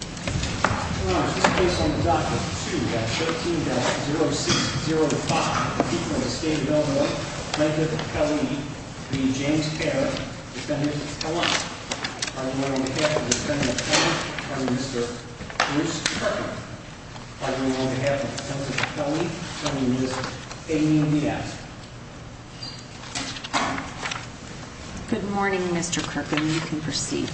Good morning, Mr. Kirk and you can proceed.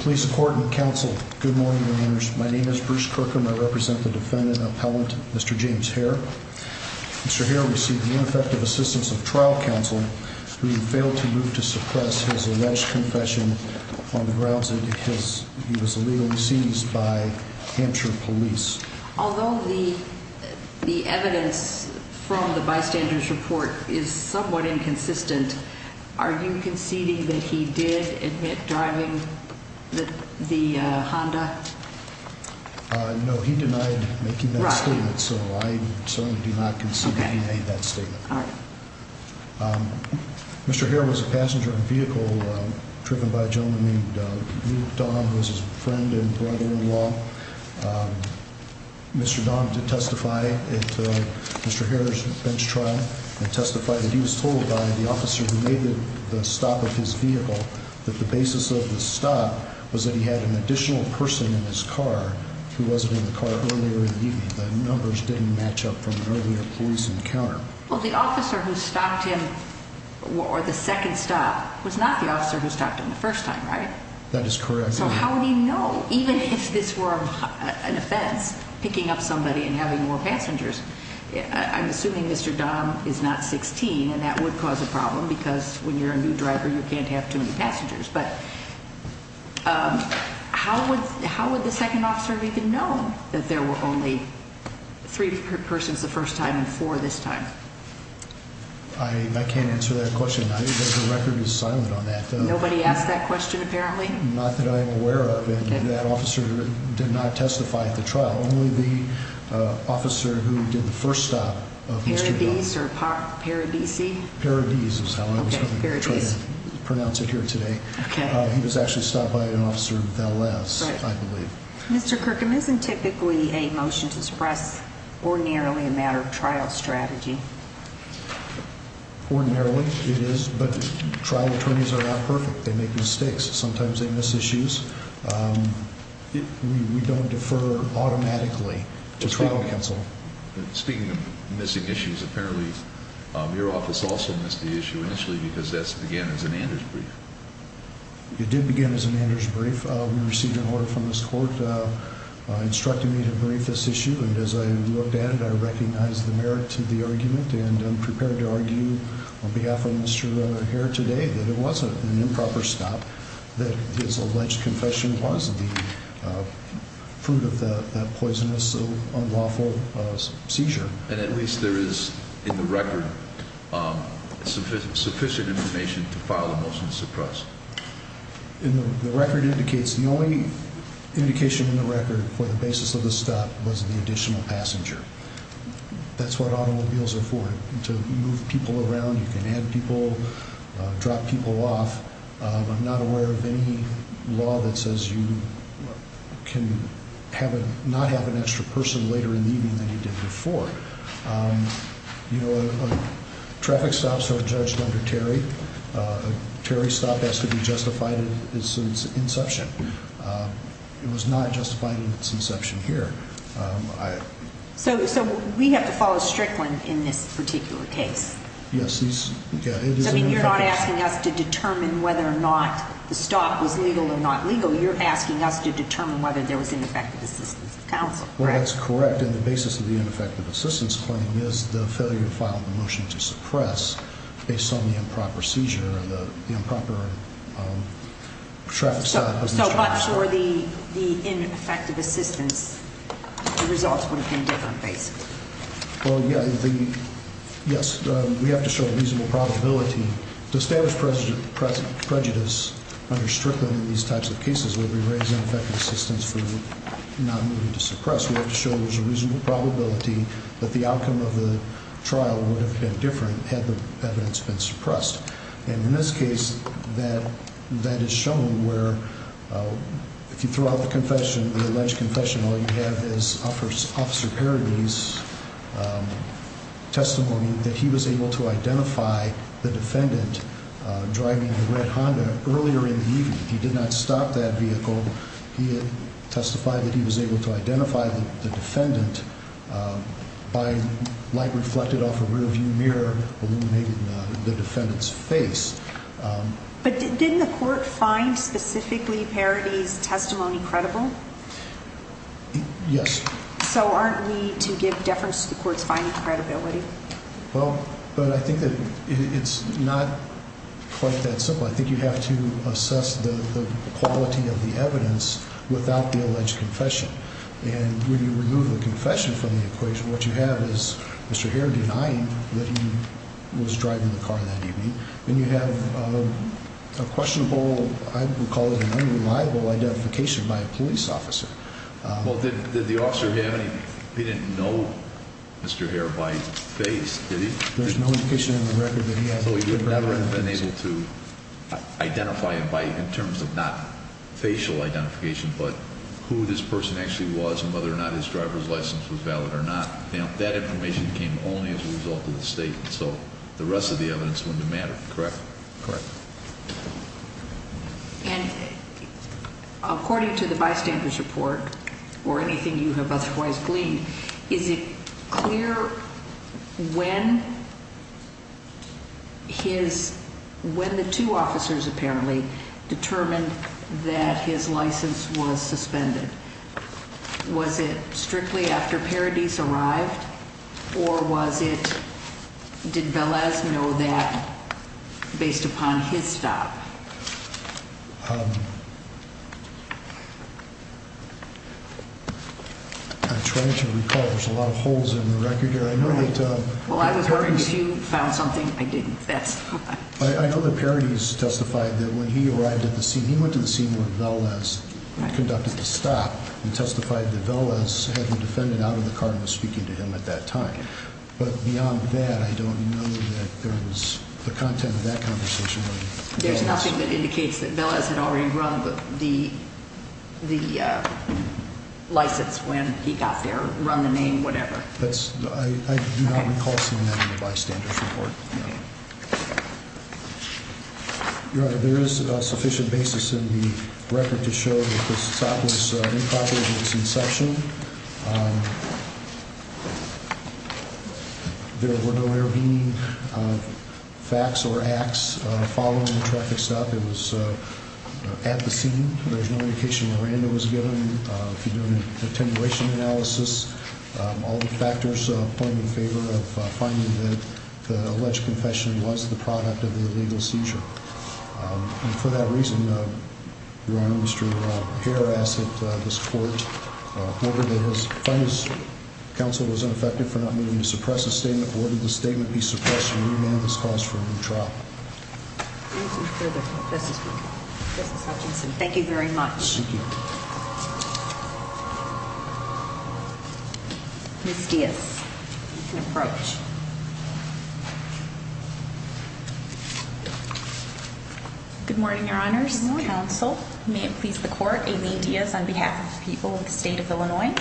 Please support and counsel. Good morning. My name is Bruce Kirkham. I represent the defendant appellant, Mr. James Hare. Mr. Hare received ineffective assistance of trial counsel who failed to move to suppress his alleged confession on the grounds that he was illegally seized by Hampshire police. Although the evidence from the bystanders report is somewhat inconsistent, are you conceding that he did admit driving the Honda? No, he denied making that statement, so I certainly do not concede that he made that statement. Mr. Hare was a passenger in a vehicle driven by a gentleman named Don, who was his friend and brother-in-law. Mr. Don did testify at Mr. Hare's bench trial and testified that he was told by the officer who made the stop of his vehicle that the basis of the stop was that he had an additional person in his car who wasn't in the car earlier in the evening. The numbers didn't match up from an earlier police encounter. Well, the officer who stopped him, or the second stop, was not the officer who stopped him the first time, right? That is correct. So how would he know, even if this were an offense, picking up somebody and having more passengers? I'm assuming Mr. Don is not 16, and that would cause a problem because when you're a new driver, you can't have too many passengers. But how would the second officer have even known that there were only three persons the first time and four this time? I can't answer that question. The record is silent on that. Nobody asked that question, apparently? Not that I'm aware of, and that officer did not testify at the trial. Only the officer who did the first stop of Mr. Don. Paradis or Paradisi? Paradis is how I was going to pronounce it here today. He was actually stopped by an officer, Veles, I believe. Mr. Kirkham isn't typically a motion to suppress ordinarily a matter of trial strategy. Ordinarily it is, but trial attorneys are not perfect. They make mistakes. Sometimes they miss issues. We don't defer automatically to trial counsel. Speaking of missing issues, apparently your office also missed the issue initially because that began as an Anders brief. It did begin as an Anders brief. We received an order from this court instructing me to brief this issue, and as I looked at it, I recognized the merit to the argument and I'm prepared to argue on behalf of Mr. Hare today that it wasn't an improper stop, that his alleged confession was the fruit of that poisonous, unlawful seizure. And at this point, there is, in the record, sufficient information to file a motion to suppress. And the record indicates the only indication in the record for the basis of the stop was the additional passenger. That's what automobiles are for, to move people around. You can add people, drop people off. I'm not aware of any law that says you can not have an extra person later in the evening than you did before. You know, traffic stops are judged under Terry. A Terry stop has to be justified at its inception. It was not justified at its inception here. So we have to follow Strickland in this particular case? Yes. You're not asking us to determine whether or not the stop was legal or not legal. You're asking us to determine whether there was ineffective assistance of counsel. Well, that's correct. And the basis of the ineffective assistance claim is the failure to file the motion to suppress based on the improper seizure of the improper traffic stop. So I'm sure the ineffective assistance, the results would have been different, basically. Well, yeah. Yes. We have to show a reasonable probability to establish prejudice under Strickland in these types of cases where we raise ineffective assistance for not moving to suppress. We have to show there's a reasonable probability that the outcome of the trial would have been different had the evidence been suppressed. And in this case, that that is shown where if you throw out the confession, the alleged confession, all you have is Officer Parabese's testimony that he was able to identify the defendant driving the red Honda earlier in the evening. He did not stop that vehicle. He had testified that he was able to identify the defendant by light reflected off a rearview mirror illuminated in the defendant's face. But didn't the court find specifically Parabese's testimony credible? Yes. So aren't we to give deference to the court's finding credibility? Well, but I think that it's not quite that simple. I think you have to assess the quality of the evidence without the alleged confession. And when you remove the confession from the equation, what you have is Mr. Hare denying that he was driving the car that evening. Then you have a questionable, I would call it an unreliable identification by a police officer. Well, did the officer have any, he didn't know Mr. Hare by face, did he? There's no indication in the record that he has. So he would never have been able to identify him by in terms of not facial identification, but who this person actually was and whether or not his driver's license was valid or not. That information came only as a result of the state. So the rest of the evidence wouldn't have mattered, correct? Correct. And according to the bystander's report or anything you have otherwise gleaned, is it clear when his, when the two officers apparently determined that his license was suspended? Was it strictly after Parabese arrived or was it, did Velez know that based upon his stop? I'm trying to recall. There's a lot of holes in the record here. I know that, well, I was wondering if you found something. I didn't, that's fine. I know that Parabese testified that when he arrived at the scene, he went to the scene where Velez conducted the stop and testified that Velez had the defendant out of the car and was speaking to him at that time. But beyond that, I don't know that there is the content of that conversation. There's nothing that indicates that Velez had already run the, the, uh, license when he got there, run the name, whatever. That's, I do not recall seeing that in the bystander's report. No. Your Honor, there is a sufficient basis in the record to show that this stop was improper at its inception. There were no airbending facts or acts following the traffic stop. It was at the scene. There's no indication where random was given. If you're doing an attenuation analysis, all the factors point in favor of finding that the alleged confession was the product of the illegal seizure. And for that reason, Your Honor, Mr. Hare asked that this court order that was, find this counsel was ineffective for not meaning to suppress a statement, or did the statement be suppressed and remand this cause for a new trial? Thank you very much. Miss Diaz, you can approach. Good morning, Your Honors. Counsel, may it please the court, Amy Diaz on behalf of the people of the state of Illinois.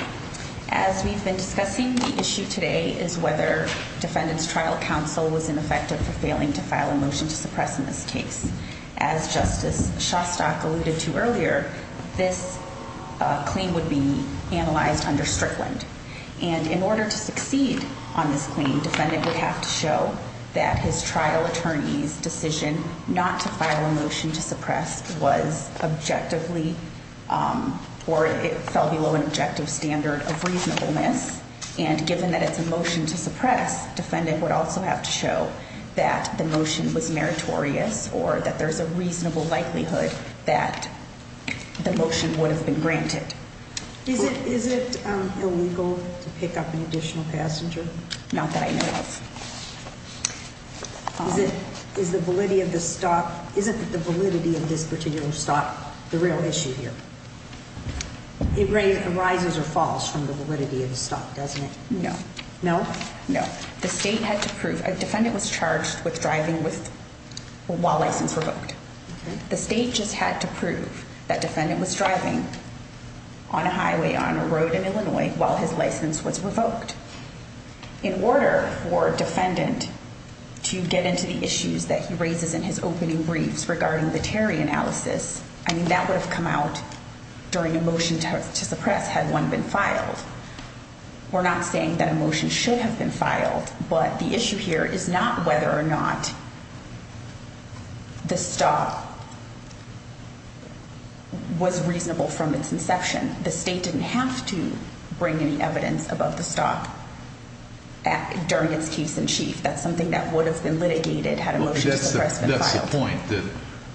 As we've been discussing, the issue today is whether defendant's trial counsel was ineffective for failing to file a motion to suppress in this case. As Justice Shostak alluded to earlier, this claim would be analyzed under Strickland. And in order to succeed on this claim, defendant would have to show that his trial attorney's decision not to file a motion to suppress was objectively, or it fell below an objective standard of reasonableness. And given that it's a motion to suppress, defendant would also have to show that the motion was meritorious or that there's a reasonable likelihood that the motion would have been granted. Is it illegal to pick up an additional passenger? Not that I know of. Is the validity of the stop, isn't the validity of this particular stop the real issue here? It rises or falls from the validity of the stop, doesn't it? No. No? No. The state had to prove, a defendant was charged with driving while license revoked. The state just had to prove that defendant was driving on a highway, on a road in Illinois, while his license was revoked. In order for defendant to get into the issues that he raises in his opening briefs regarding the Terry analysis, I mean, that would have come out during a motion to suppress had one been filed. We're not saying that a motion should have been filed, but the issue here is not whether or not the stop was reasonable from its inception. The state didn't have to bring any evidence about the stop during its case in chief. That's something that would have been litigated had a motion to suppress been filed. That's the point, that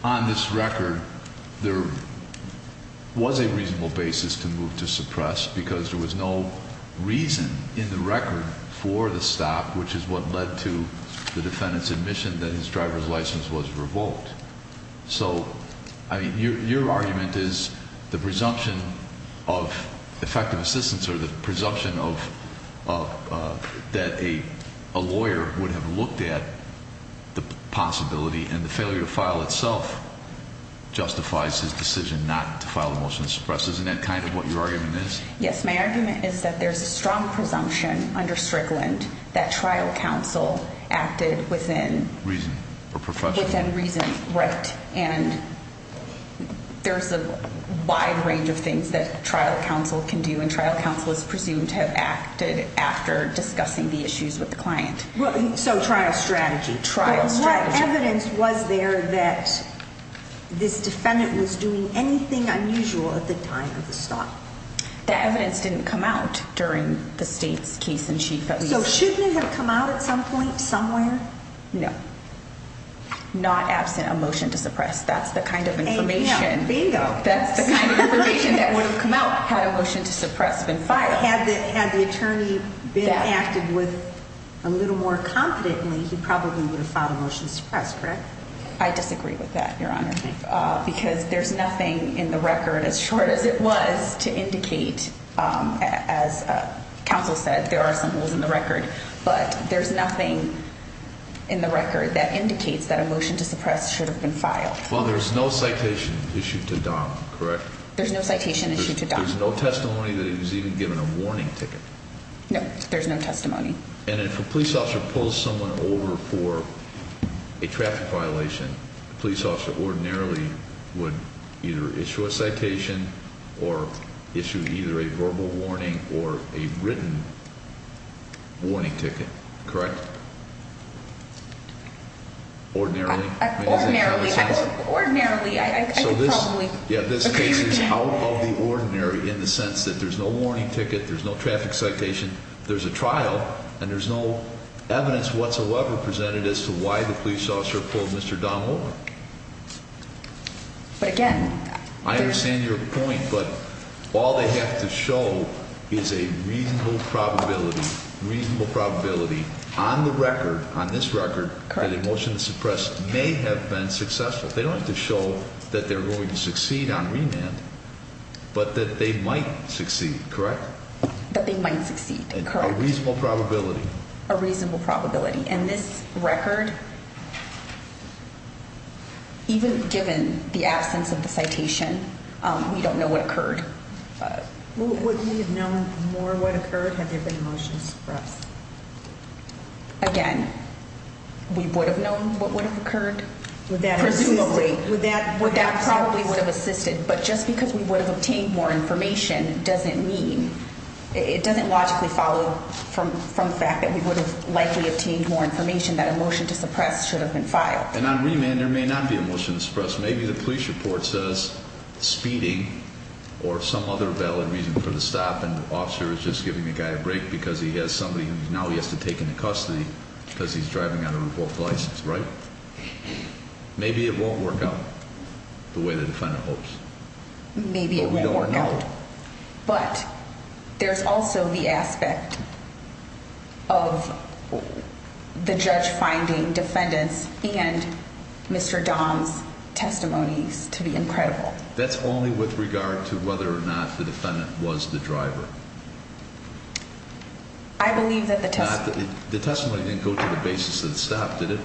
on this record, there was a reasonable basis to move to suppress because there was no reason in the record for the stop, which is what led to the defendant's admission that his driver's license was revoked. So, I mean, your argument is the presumption of effective assistance or the presumption that a lawyer would have looked at the possibility and the failure to file itself justifies his decision not to file a motion to suppress. Isn't that kind of what your argument is? Yes, my argument is that there's a strong presumption under Strickland that trial counsel acted within reason or professional reason. Right. And there's a wide range of things that trial counsel can do and trial counsel is presumed to have acted after discussing the issues with the client. So, trial strategy. What evidence was there that this defendant was doing anything unusual at the time of the stop? The evidence didn't come out during the state's case in chief. So, shouldn't it have come out at some point, somewhere? No, not absent a motion to suppress. That's the kind of information that would have come out had a motion to suppress been filed. Had the attorney been active with a little more competently, he probably would have filed a motion to suppress, correct? I disagree with that, your honor, because there's nothing in the record as short as it was to indicate, as counsel said, there are some holes in the record, but there's nothing in the record that indicates that a motion to suppress should have been filed. Well, there's no citation issued to Don, correct? There's no testimony that he was even given a warning ticket. No, there's no testimony. And if a police officer pulls someone over for a traffic violation, police officer ordinarily would either issue a citation or issue either a verbal warning or a written warning ticket, correct? Ordinarily? Ordinarily, I could probably agree with that. Yeah, this case is out of the ordinary in the sense that there's no warning ticket, there's no traffic citation, there's a trial, and there's no evidence whatsoever presented as to why the police officer pulled Mr. Don over. But again, I understand your point, but all they have to show is a reasonable probability, reasonable probability on the record, on this record, that a motion to suppress may have been successful. They don't have to show that they're going to succeed on remand, but that they might succeed, correct? That they might succeed, correct. A reasonable probability. A reasonable probability. And this record, even given the absence of the citation, we don't know what occurred. Would we have known more what occurred had there been a motion to suppress? Again, we would have known what would have occurred. Presumably, that probably would have assisted, but just because we would have obtained more information doesn't mean, it doesn't logically follow from the fact that we would have likely obtained more information that a motion to suppress should have been filed. And on remand, there may not be a motion to suppress. Or some other valid reason for the stop and the officer is just giving the guy a break because he has somebody who now he has to take into custody because he's driving on a revoked license, right? Maybe it won't work out the way the defendant hopes. Maybe it won't work out, but there's also the aspect of the judge finding defendants and Mr. Don's testimonies to be incredible. That's only with regard to whether or not the defendant was the driver. I believe that the testimony didn't go to the basis of the stop, did it?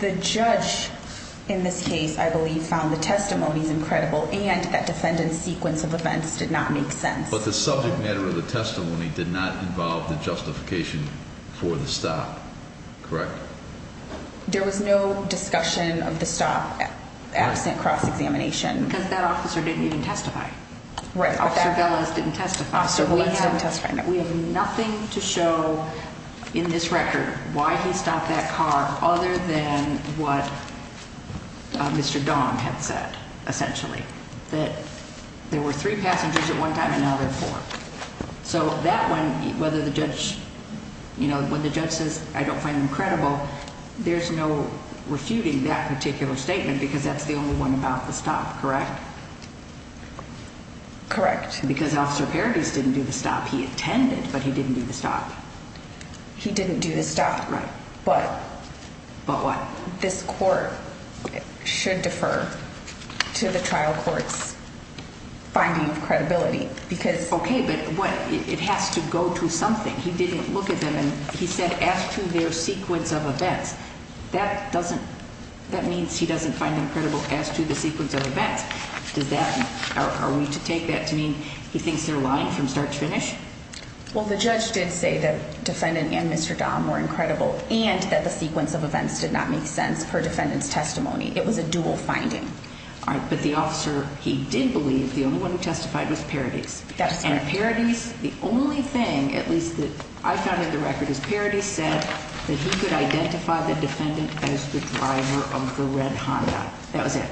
The judge in this case, I believe, found the testimonies incredible and that defendant's sequence of events did not make sense. But the subject matter of the testimony did not involve the justification for the stop, correct? There was no discussion of the stop absent cross-examination. Because that officer didn't even testify. Officer Velas didn't testify. We have nothing to show in this record why he stopped that car other than what Mr. Don had said, essentially, that there were three passengers at one time and now there are four. So that one, whether the judge, you know, when the judge says, I don't find them credible, there's no refuting that particular statement because that's the only one about the stop, correct? Correct. Because Officer Paradis didn't do the stop. He attended, but he didn't do the stop. He didn't do the stop. Right. But what? This court should defer to the trial court's finding of credibility because... Okay, but what, it has to go to something. He didn't look at them and he said, as to their sequence of events, that doesn't, that means he doesn't find them credible as to the sequence of events. Does that, are we to take that to mean he thinks they're lying from start to finish? Well, the judge did say that defendant and Mr. Don were incredible and that the sequence of events did not make sense per defendant's testimony. It was a dual finding. All right, but the officer, he did believe the only one who testified was Paradis. That's right. And Paradis, the only thing, at least that I found in the record, is Paradis said that he could identify the defendant as the driver of the red Honda. That was it.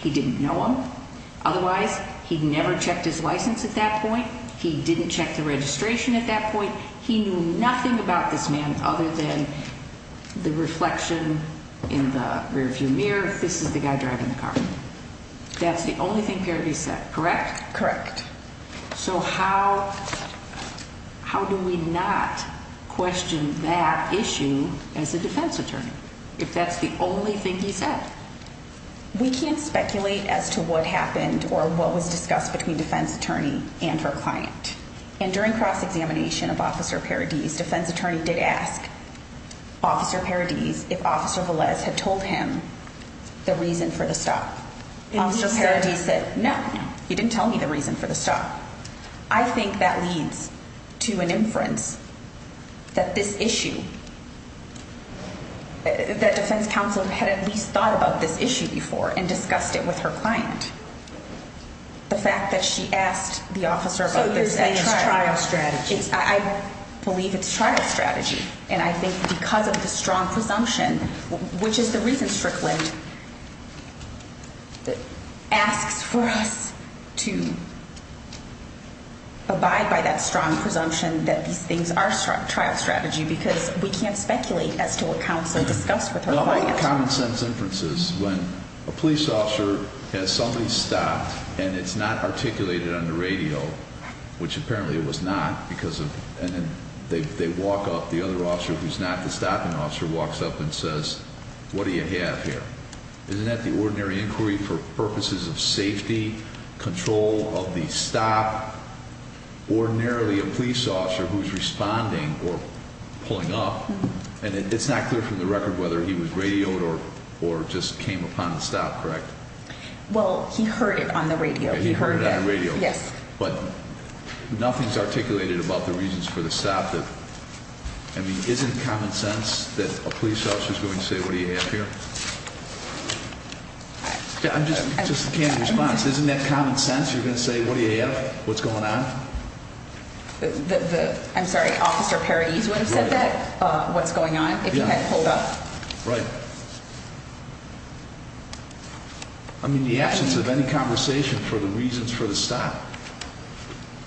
He didn't know him. Otherwise, he'd never checked his license at that point. He didn't check the registration at that point. He knew nothing about this man other than the reflection in the rear view mirror, this is the guy driving the car. That's the only thing Paradis said, correct? Correct. So how do we not question that issue as a defense attorney, if that's the only thing he said? We can't speculate as to what happened or what was discussed between defense attorney and her client. And during cross-examination of officer Paradis, defense attorney did ask officer Paradis if officer Velez had told him the reason for the stop. Officer Paradis said, no, you didn't tell me the reason for the stop. I think that leads to an inference that this issue, that defense counsel had at least thought about this issue before and discussed it with her client. The fact that she asked the officer about this at trial. So you're saying it's trial strategy? I believe it's trial strategy. And I think because of the strong presumption, which is the reason Strickland asks for us to abide by that strong presumption that these things are trial strategy, because we can't speculate as to what the common sense inference is when a police officer has somebody stop and it's not articulated on the radio, which apparently it was not because of, and then they walk up, the other officer, who's not the stopping officer, walks up and says, what do you have here? Isn't that the ordinary inquiry for purposes of safety control of the stop? Ordinarily a police officer who's responding or pulling up and it's not clear from the record whether he was radioed or just came upon the stop, correct? Well, he heard it on the radio. He heard it on the radio. Yes. But nothing's articulated about the reasons for the stop that, I mean, isn't common sense that a police officer is going to say, what do you have here? I'm just, just the candid response. Isn't that common sense? You're going to say, what do you have? What's going on? I'm sorry, officer Perry's when he said that, uh, what's going on if you had pulled up, right? I mean, the absence of any conversation for the reasons for the stop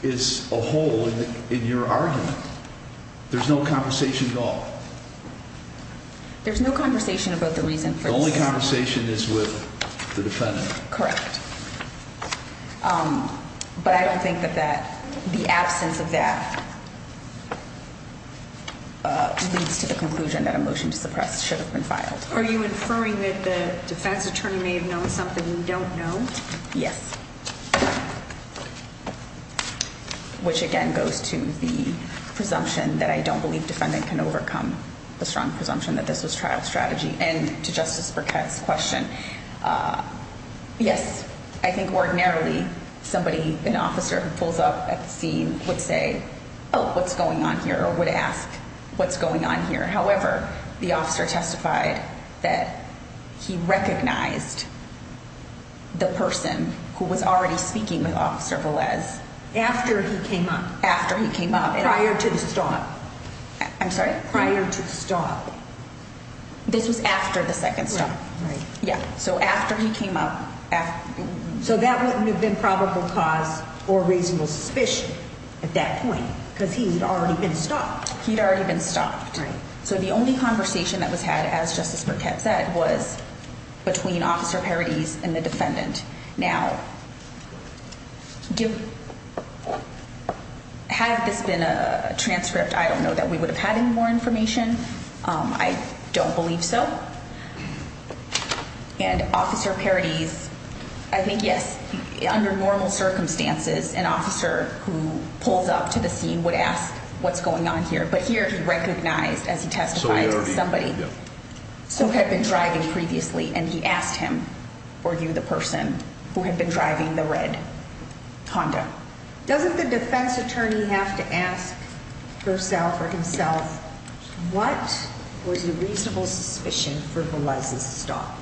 is a hole in your argument. There's no conversation at all. There's no conversation about the reason for the only conversation is with the defendant. Correct. Um, but I don't think that that the absence of that leads to the conclusion that a motion to suppress should have been filed. Are you inferring that the defense attorney may have known something you don't know? Yes. Which again goes to the presumption that I don't believe defendant can overcome the strong presumption that this was trial strategy. And to Justice Burkett's question, yes, I think ordinarily somebody, an officer who pulls up at the scene would say, oh, what's going on here? Or would ask what's going on here. However, the officer testified that he recognized the person who was already speaking with officer Valas after he came up, after he came up and prior to the stop, I'm sorry, prior to stop. This was after the second stop. Yeah. So after he came up, so that wouldn't have been probable cause or reasonable suspicion at that point because he had already been stopped. He'd already been stopped. So the only conversation that was had as Justice Burkett said was between officer parodies and the defendant. Now, do have this been a transcript? I don't know that we would have had any more information. I don't believe so. And officer parodies, I think yes, under normal circumstances, an officer who pulls up to the scene would ask what's going on here. But here he recognized as he testified to somebody who had been driving previously and he asked him or you, the person who had been driving the red Honda. Doesn't the defense attorney have to ask herself or himself? What was the reasonable suspicion for Valas's stop?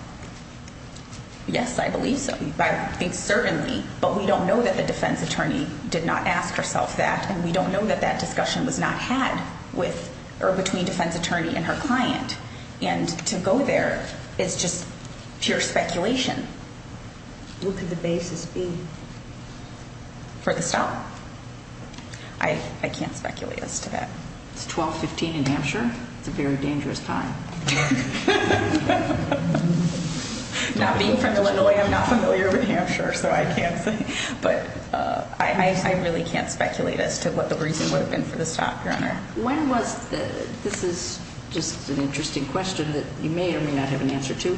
Yes, I believe so. I think certainly, but we don't know that the defense attorney did not ask herself that. And we don't know that that discussion was not had with or between defense attorney and her client. And to go there is just pure speculation. What could the basis be for the stop? I can't speculate as to that. It's 1215 in Hampshire. It's a very dangerous time. Not being from Illinois, I'm not familiar with Hampshire, so I can't say, but I really can't speculate as to what the reason would have been for the stop. Your honor. When was the, this is just an interesting question that you may or may not have an answer to.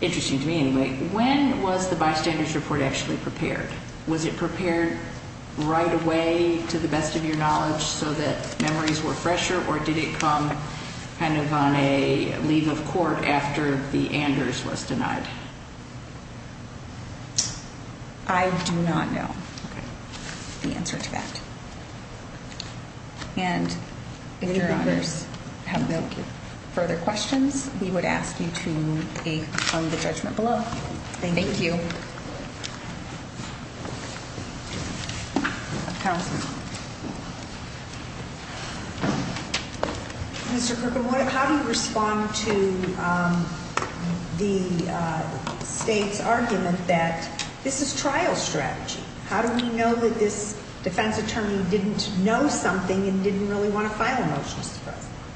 Interesting to me. Anyway, when was the bystanders report actually prepared? Was it prepared right away to the best of your knowledge so that memories were fresher or did it come kind of on a leave of court after the Anders was denied? I do not know the answer to that. Your honors have no further questions. We would ask you to move on the judgment below. Thank you. Mr. Kirkwood, how do you respond to the state's argument that this is trial strategy? How do we determine that the defense attorney didn't know something and didn't really want to file a motion?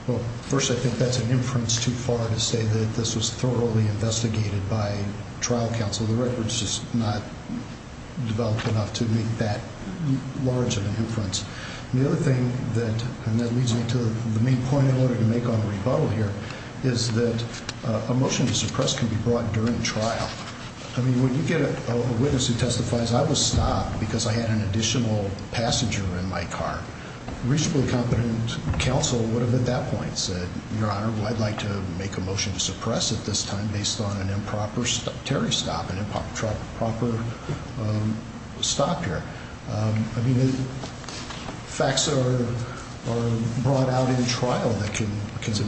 Well, first, I think that's an inference too far to say that this was thoroughly investigated by trial counsel. The record's just not developed enough to make that large of an inference. The other thing that, and that leads me to the main point I wanted to make on the rebuttal here is that a motion to suppress can be brought during trial. I mean, when you get a witness who testifies, I was stopped because I had an additional passenger in my car. Reasonably competent counsel would have at that point said, your honor, I'd like to make a motion to suppress at this time based on an improper stop, Terry stop, an improper stop here. I mean, facts are brought out in trial that can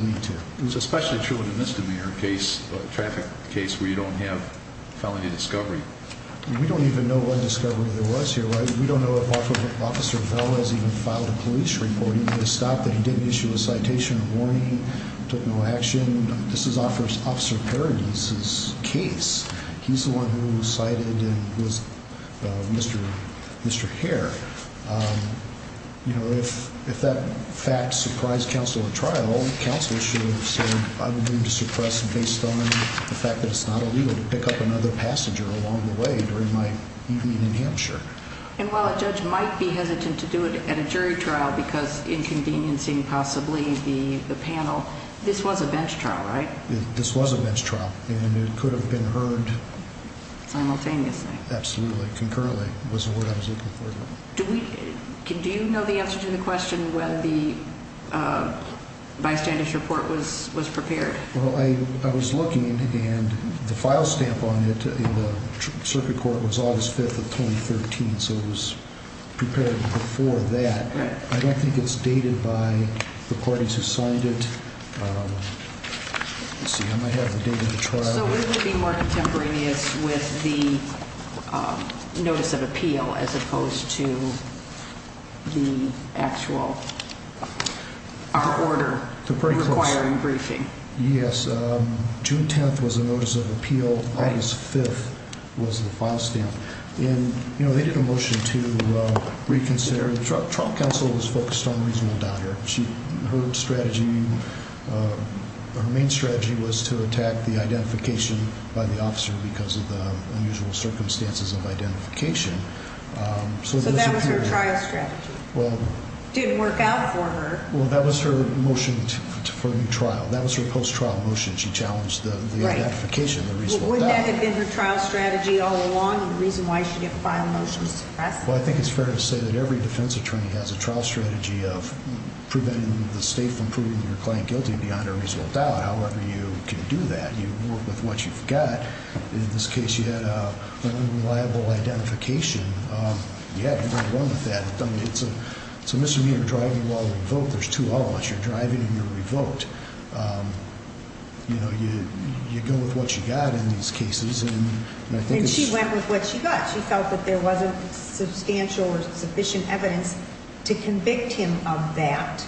lead to. It's especially true in a misdemeanor case, a traffic case where you don't have any discovery. We don't even know what discovery there was here, right? We don't know if officer Velas even filed a police report. He was stopped that he didn't issue a citation of warning, took no action. This is officer Paradis' case. He's the one who cited and was Mr. Hare. You know, if that fact surprised counsel at trial, counsel should have said I would pick up another passenger along the way during my evening in Hampshire. And while a judge might be hesitant to do it at a jury trial because inconveniencing possibly the panel, this was a bench trial, right? This was a bench trial and it could have been heard simultaneously. Absolutely. Concurrently was the word I was looking for. Do we, do you know the answer to the question when the bystanders report was prepared? Well, I was looking and the file stamp on it in the circuit court was August 5th of 2013. So it was prepared before that. I don't think it's dated by the parties who signed it. Let's see, I might have the date of the trial. So would it be more contemporaneous with the notice of appeal as opposed to the actual order requiring briefing? Yes. Um, June 10th was a notice of appeal. August 5th was the file stamp in, you know, they did a motion to reconsider. The trial counsel was focused on reasonable doubt. Her, she, her strategy, uh, her main strategy was to attack the identification by the officer because of the unusual circumstances of identification. Um, so that was her trial strategy didn't work out for her. Well, that was her motion for the trial. That was her post trial motion. She challenged the identification, the reasonable doubt. Wouldn't that have been her trial strategy all along and the reason why she didn't file a motion to suppress? Well, I think it's fair to say that every defense attorney has a trial strategy of preventing the state from proving your client guilty beyond a reasonable doubt. However, you can do that. You work with what you've got. In this case, you had an unreliable identification. Um, yeah, you're going to run with that. I mean, it's a, it's a misdemeanor driving while revoked. There's two of us. You're driving and you're revoked. Um, you know, you, you go with what you got in these cases and I think she went with what she got. She felt that there wasn't substantial or sufficient evidence to convict him of that.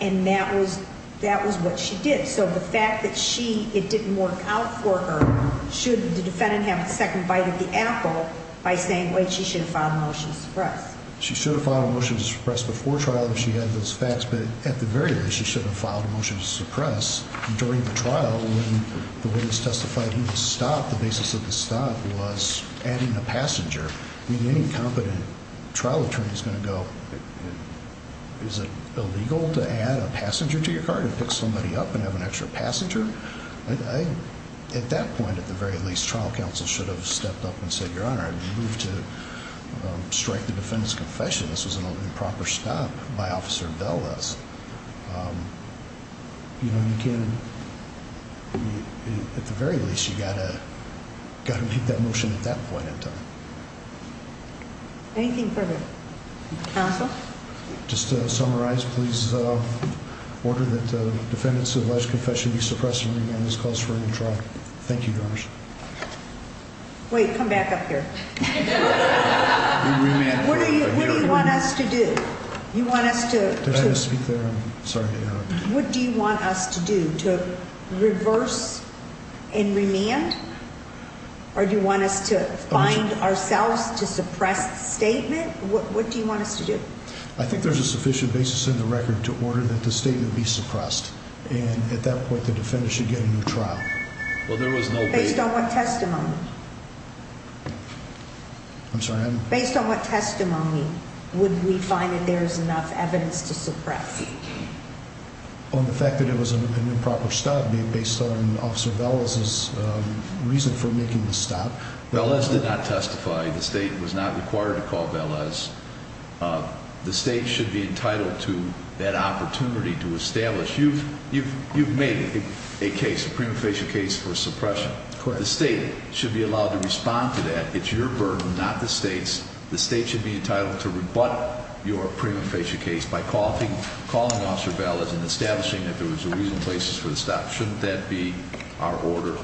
And that was, that was what she did. So the fact that she, it didn't work out for her, should the defendant have a second bite of the apple by saying, wait, she should have filed a motion to suppress. She should have filed a motion to suppress before trial if she had those facts. But at the very least, she should have filed a motion to suppress during the trial when the witness testified in the stop. The basis of the stop was adding a passenger. I mean, any competent trial attorney is going to go, is it illegal to add a passenger to your car to pick somebody up and have an extra passenger? I, at that point, at the very least, trial counsel should have stepped up and said, your honor, I move to strike the defendant's confession. This was an improper stop by officer bell us. Um, you know, you can, at the very least, you gotta, gotta make that motion at that point in time. Anything further? Counsel, just to summarize, please, uh, order that the defendants of alleged confession be suppressed. This calls for a new trial. Thank you. Wait, come back up here. What do you want us to do? You want us to speak there? I'm sorry. What do you want us to do to reverse and remand? Or do you want us to find ourselves to suppress the statement? What do you want us to do? I think there's a sufficient basis in the record to order that the statement be suppressed. And at that point, the defendant should get a new trial. Well, there was no I'm sorry. Based on what testimony would we find that there is enough evidence to suppress on the fact that it was an improper stop being based on officer bells is reason for making the stop. The list did not testify. The state was not required to call us. The state should be entitled to that opportunity to establish. You've you've you've made a case of prima facie case for suppression. The state should be allowed to respond to that. It's your burden, not the state's. The state should be entitled to rebut your prima facie case by coffee, calling officer balance and establishing that there was a reason places for the stop. Shouldn't that be our order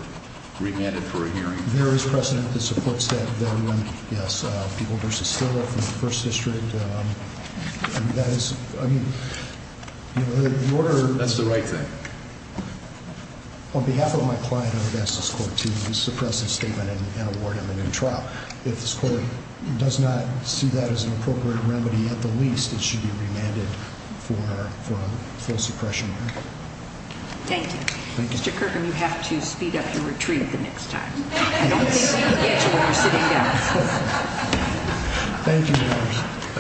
remanded for a hearing? There is precedent that supports that. Yes, people versus first district. That is the order. That's the right thing. On behalf of my client, I would ask this court to suppress this statement and award him a new trial. If this court does not see that as an appropriate remedy at the least, it should be remanded for full suppression. Thank you. Mr Kirkham, you have to speed up your retreat the next time. Thank you.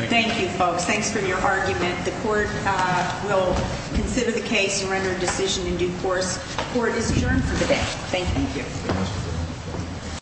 Thank you, folks. Thanks for your argument. The court will consider the case and render a decision in due course. Court is adjourned for the day. Thank you.